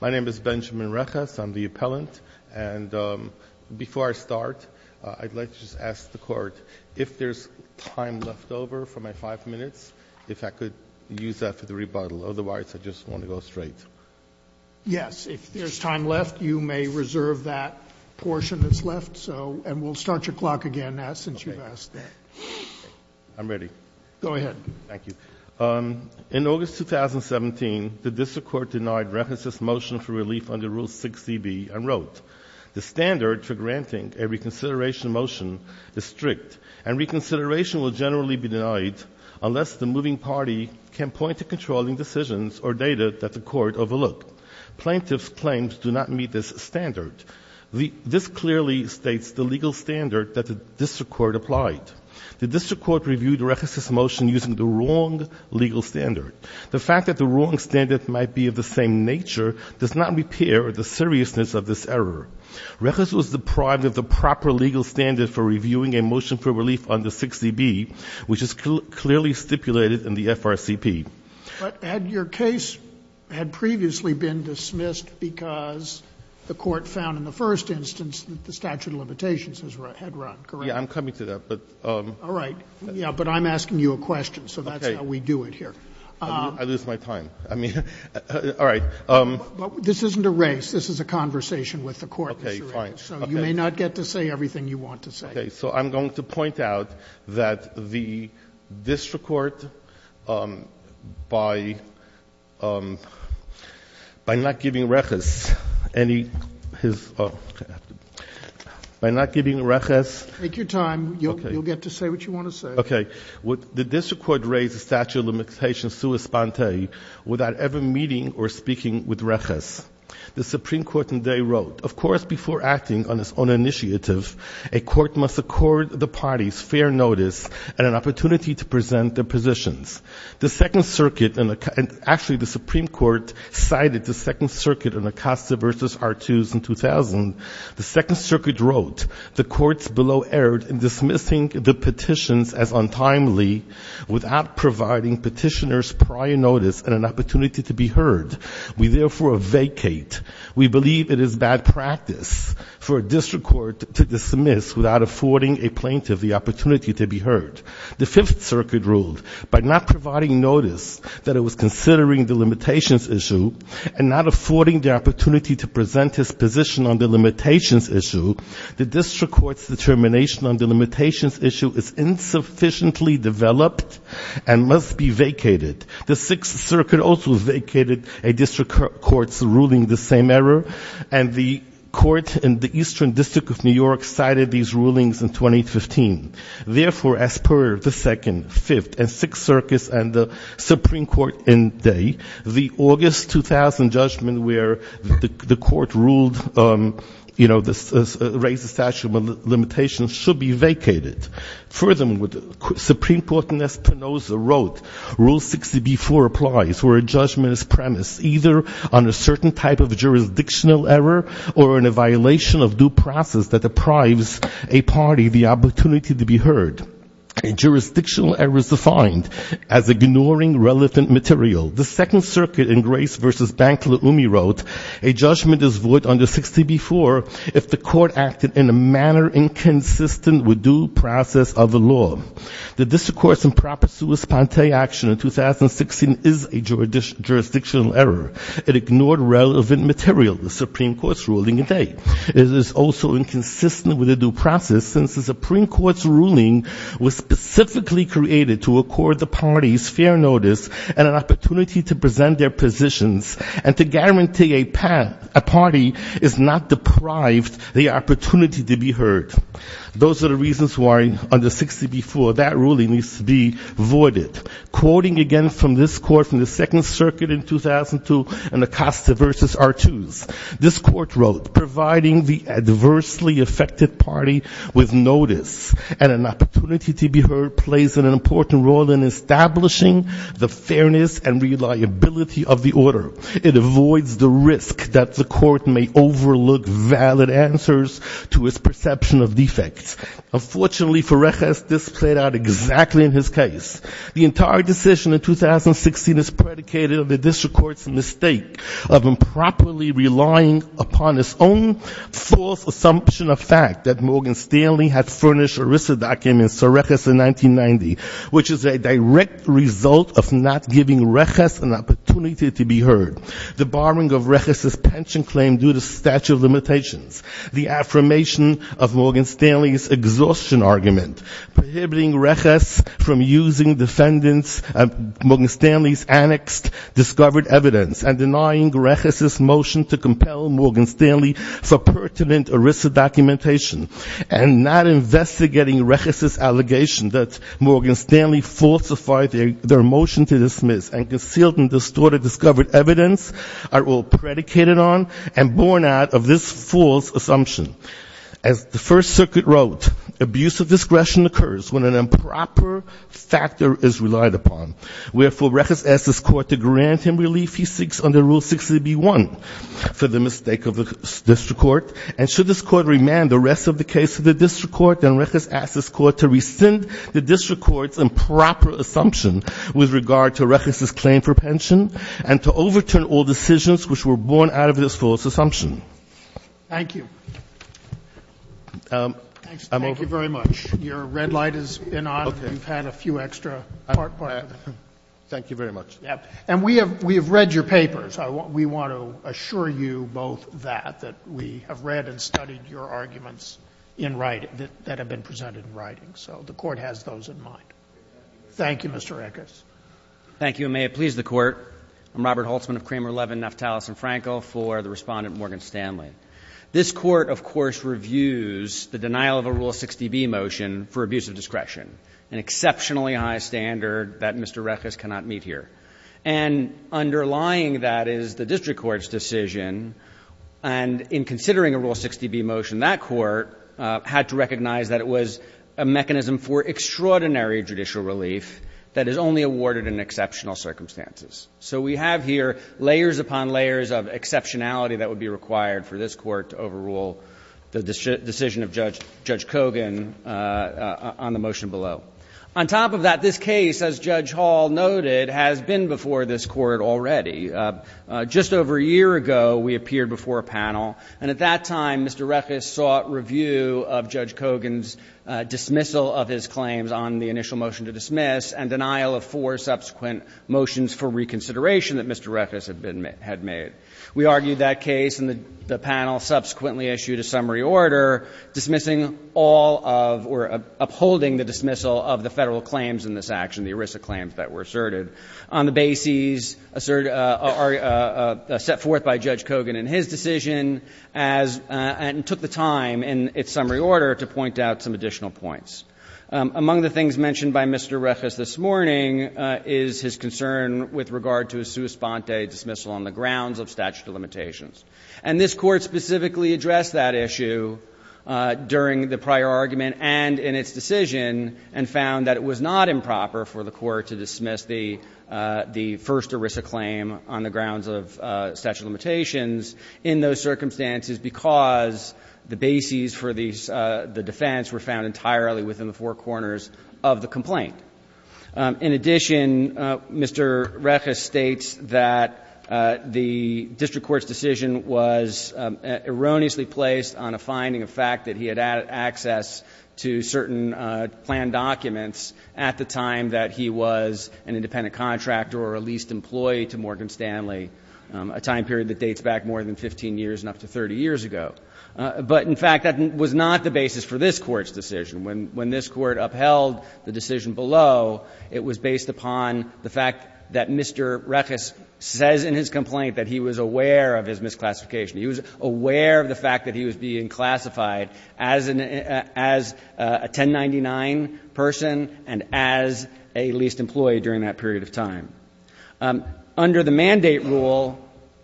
My name is Benjamin Reches. I'm the appellant, and before I start, I'd like to just ask the Court if there's time left over for my five minutes, if I could use that for the rebuttal. Otherwise, I just want to go straight. Yes, if there's time left, you may reserve that portion that's left, and we'll start your clock again now since you've asked that. I'm ready. Go ahead. Thank you. In August 2017, the District Court denied Reches' motion for relief under Rule 6dB and wrote, The standard for granting a reconsideration motion is strict, and reconsideration will generally be denied unless the moving party can point to controlling decisions or data that the Court overlooked. Plaintiffs' claims do not meet this standard. This clearly states the legal standard that the District Court applied. The District Court reviewed Reches' motion using the wrong legal standard. The fact that the wrong standard might be of the same nature does not repair the seriousness of this error. Reches was deprived of the proper legal standard for reviewing a motion for relief under 6dB, which is clearly stipulated in the FRCP. But your case had previously been dismissed because the Court found in the first instance that the statute of limitations had run, correct? Yeah, I'm coming to that, but. All right. Yeah, but I'm asking you a question, so that's how we do it here. Okay. I lose my time. I mean, all right. But this isn't a race. This is a conversation with the Court. Okay, fine. So you may not get to say everything you want to say. Okay. So I'm going to point out that the District Court, by not giving Reches any of his, by not giving Reches. Take your time. Okay. You'll get to say what you want to say. Okay. The District Court raised the statute of limitations sua sponte without ever meeting or speaking with Reches. The Supreme Court indeed wrote, of course, before acting on its own initiative, a court must accord the parties fair notice and an opportunity to present their positions. The Second Circuit, and actually the Supreme Court cited the Second Circuit in Acosta v. R2s in 2000, the Second Circuit wrote, the courts below erred in dismissing the petitions as untimely without providing petitioners prior notice and an opportunity to be heard. We therefore vacate. We believe it is bad practice for a District Court to dismiss without affording a plaintiff the opportunity to be heard. The Fifth Circuit ruled by not providing notice that it was considering the limitations issue and not affording the opportunity to present its position on the limitations issue, the District Court's determination on the limitations issue is insufficiently developed and must be vacated. The Sixth Circuit also vacated a District Court's ruling the same error, and the court in the Eastern District of New York cited these rulings in 2015. Therefore, as per the Second, Fifth, and Sixth Circuits and the Supreme Court indeed, the August 2000 judgment where the court ruled, you know, raised the statute of limitations should be vacated. Furthermore, the Supreme Court in Espinoza wrote, Rule 60b-4 applies where a judgment is premised either on a certain type of jurisdictional error or in a violation of due process that deprives a party the opportunity to be heard. A jurisdictional error is defined as ignoring relevant material. The Second Circuit in Grace v. Bankela-Ume wrote, A judgment is void under 60b-4 if the court acted in a manner inconsistent with due process of the law. The District Court's improper sui sponte action in 2016 is a jurisdictional error. It ignored relevant material, the Supreme Court's ruling today. It is also inconsistent with the due process since the Supreme Court's ruling was specifically created to accord the parties fair notice and an opportunity to present their positions and to guarantee a party is not deprived the opportunity to be heard. Those are the reasons why under 60b-4 that ruling needs to be voided. Quoting again from this court in the Second Circuit in 2002 in Acosta v. Artus, this court wrote, Providing the adversely affected party with notice and an opportunity to be heard plays an important role in establishing the fairness and reliability of the order. It avoids the risk that the court may overlook valid answers to its perception of defects. Unfortunately, Ferrejas displayed that exactly in his case. The entire decision in 2016 is predicated on the District Court's mistake of improperly relying upon its own false assumption of fact that Morgan Stanley had furnished ERISA documents to Ferrejas in 1990, which is a direct result of not giving Rejas an opportunity to be heard. The barring of Rejas's pension claim due to statute of limitations, the affirmation of Morgan Stanley's exhaustion argument, prohibiting Rejas from using Morgan Stanley's annexed discovered evidence, and denying Rejas's motion to compel Morgan Stanley for pertinent ERISA documentation, and not investigating Rejas's allegation that Morgan Stanley falsified their motion to dismiss and concealed and distorted discovered evidence are all predicated on and born out of this false assumption. As the First Circuit wrote, abuse of discretion occurs when an improper factor is relied upon. Wherefore, Rejas asked his court to grant him relief he seeks under Rule 60b-1 for the mistake of the District Court. And should this court remand the rest of the case to the District Court, then Rejas asked his court to rescind the District Court's improper assumption with regard to Rejas's claim for pension, and to overturn all decisions which were born out of this false assumption. Thank you. I'm over. Thank you very much. Your red light has been on. Okay. You've had a few extra parts. Thank you very much. And we have read your papers. We want to assure you both that, that we have read and studied your arguments in writing that have been presented in writing. So the Court has those in mind. Thank you, Mr. Rejas. Thank you, and may it please the Court. I'm Robert Holtzman of Kramer Levin, Naftalis & Franco, for the Respondent Morgan Stanley. This Court, of course, reviews the denial of a Rule 60b motion for abuse of discretion, an exceptionally high standard that Mr. Rejas cannot meet here. And underlying that is the District Court's decision, and in considering a Rule 60b motion, that Court had to recognize that it was a mechanism for extraordinary judicial relief that is only awarded in exceptional circumstances. So we have here layers upon layers of exceptionality that would be required for this Court to overrule the decision of Judge Kogan on the motion below. On top of that, this case, as Judge Hall noted, has been before this Court already. Just over a year ago, we appeared before a panel, and at that time, Mr. Rejas sought review of Judge Kogan's dismissal of his claims on the initial motion to dismiss and denial of four subsequent motions for reconsideration that Mr. Rejas had made. We argued that case, and the panel subsequently issued a summary order dismissing all of, or upholding the dismissal of the Federal claims in this action, the ERISA claims that were asserted, on the basis set forth by Judge Kogan in his decision and took the time in its summary order to point out some additional points. Among the things mentioned by Mr. Rejas this morning is his concern with regard to a sua sponte dismissal on the grounds of statute of limitations. And this Court specifically addressed that issue during the prior argument and in its decision and found that it was not improper for the Court to dismiss the first ERISA claim on the grounds of statute of limitations in those circumstances because the bases for the defense were found entirely within the four corners of the complaint. In addition, Mr. Rejas states that the district court's decision was erroneously placed on a finding of fact that he had access to certain planned documents at the time that he was an independent contractor or a leased employee to Morgan Stanley, a time period that dates back more than 15 years and up to 30 years ago. But, in fact, that was not the basis for this Court's decision. When this Court upheld the decision below, it was based upon the fact that Mr. Rejas says in his complaint that he was aware of his misclassification. He was aware of the fact that he was being classified as a 1099 person and as a leased employee during that period of time. Under the mandate rule,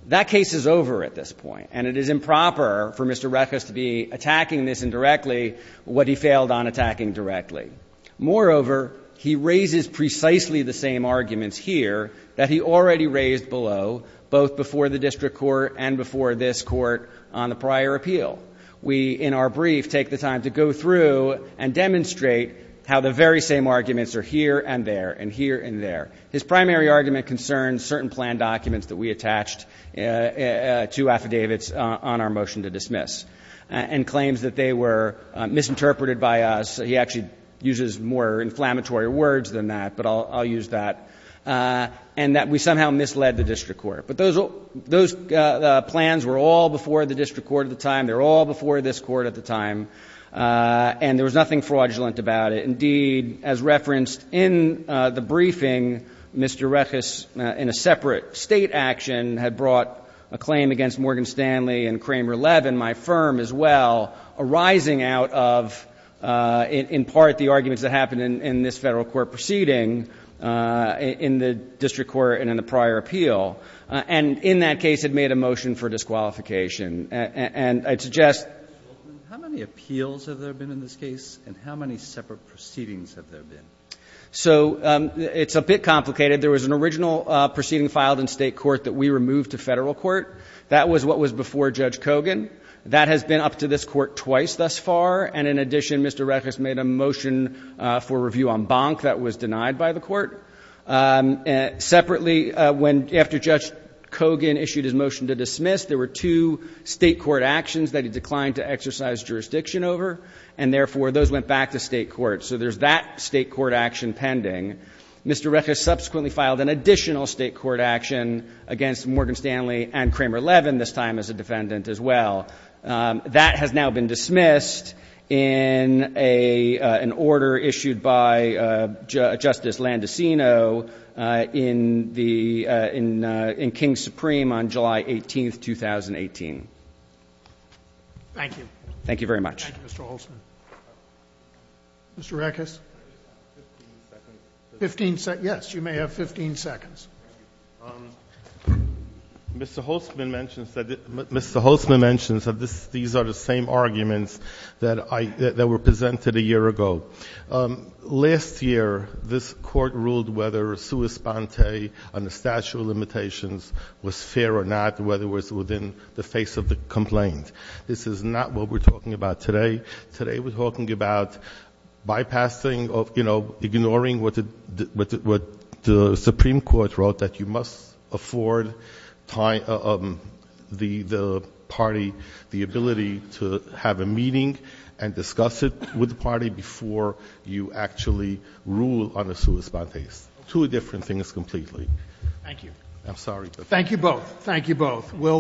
that case is over at this point. And it is improper for Mr. Rejas to be attacking this indirectly what he failed on attacking directly. Moreover, he raises precisely the same arguments here that he already raised below both before the district court and before this Court on the prior appeal. We, in our brief, take the time to go through and demonstrate how the very same arguments are here and there and here and there. His primary argument concerns certain plan documents that we attached to affidavits on our motion to dismiss and claims that they were misinterpreted by us. He actually uses more inflammatory words than that, but I'll use that. And that we somehow misled the district court. But those plans were all before the district court at the time. They were all before this court at the time. And there was nothing fraudulent about it. And, indeed, as referenced in the briefing, Mr. Rejas, in a separate State action, had brought a claim against Morgan Stanley and Kramer Levin, my firm as well, arising out of, in part, the arguments that happened in this Federal court proceeding in the district court and in the prior appeal. And in that case, it made a motion for disqualification. And I'd suggest ---- Mr. Goldman, how many appeals have there been in this case and how many separate proceedings have there been? So it's a bit complicated. There was an original proceeding filed in State court that we removed to Federal court. That was what was before Judge Kogan. That has been up to this court twice thus far. And, in addition, Mr. Rejas made a motion for review on Bonk that was denied by the court. Separately, after Judge Kogan issued his motion to dismiss, there were two State court actions that he declined to exercise jurisdiction over. And, therefore, those went back to State court. So there's that State court action pending. Mr. Rejas subsequently filed an additional State court action against Morgan Stanley and Kramer Levin, this time as a defendant as well. That has now been dismissed in an order issued by Justice Landisino in the King's Supreme on July 18, 2018. Thank you. Thank you very much. Thank you, Mr. Holtzman. Mr. Rejas? Fifteen seconds. Fifteen seconds. Yes, you may have 15 seconds. Mr. Holtzman mentions that these are the same arguments that were presented a year ago. Last year, this court ruled whether sua sponte on the statute of limitations was fair or not, whether it was within the face of the complaint. This is not what we're talking about today. Today we're talking about bypassing, you know, ignoring what the Supreme Court wrote, that you must afford the party the ability to have a meeting and discuss it with the party before you actually rule on a sua sponte. Two different things completely. Thank you. I'm sorry. Thank you both. Thank you both.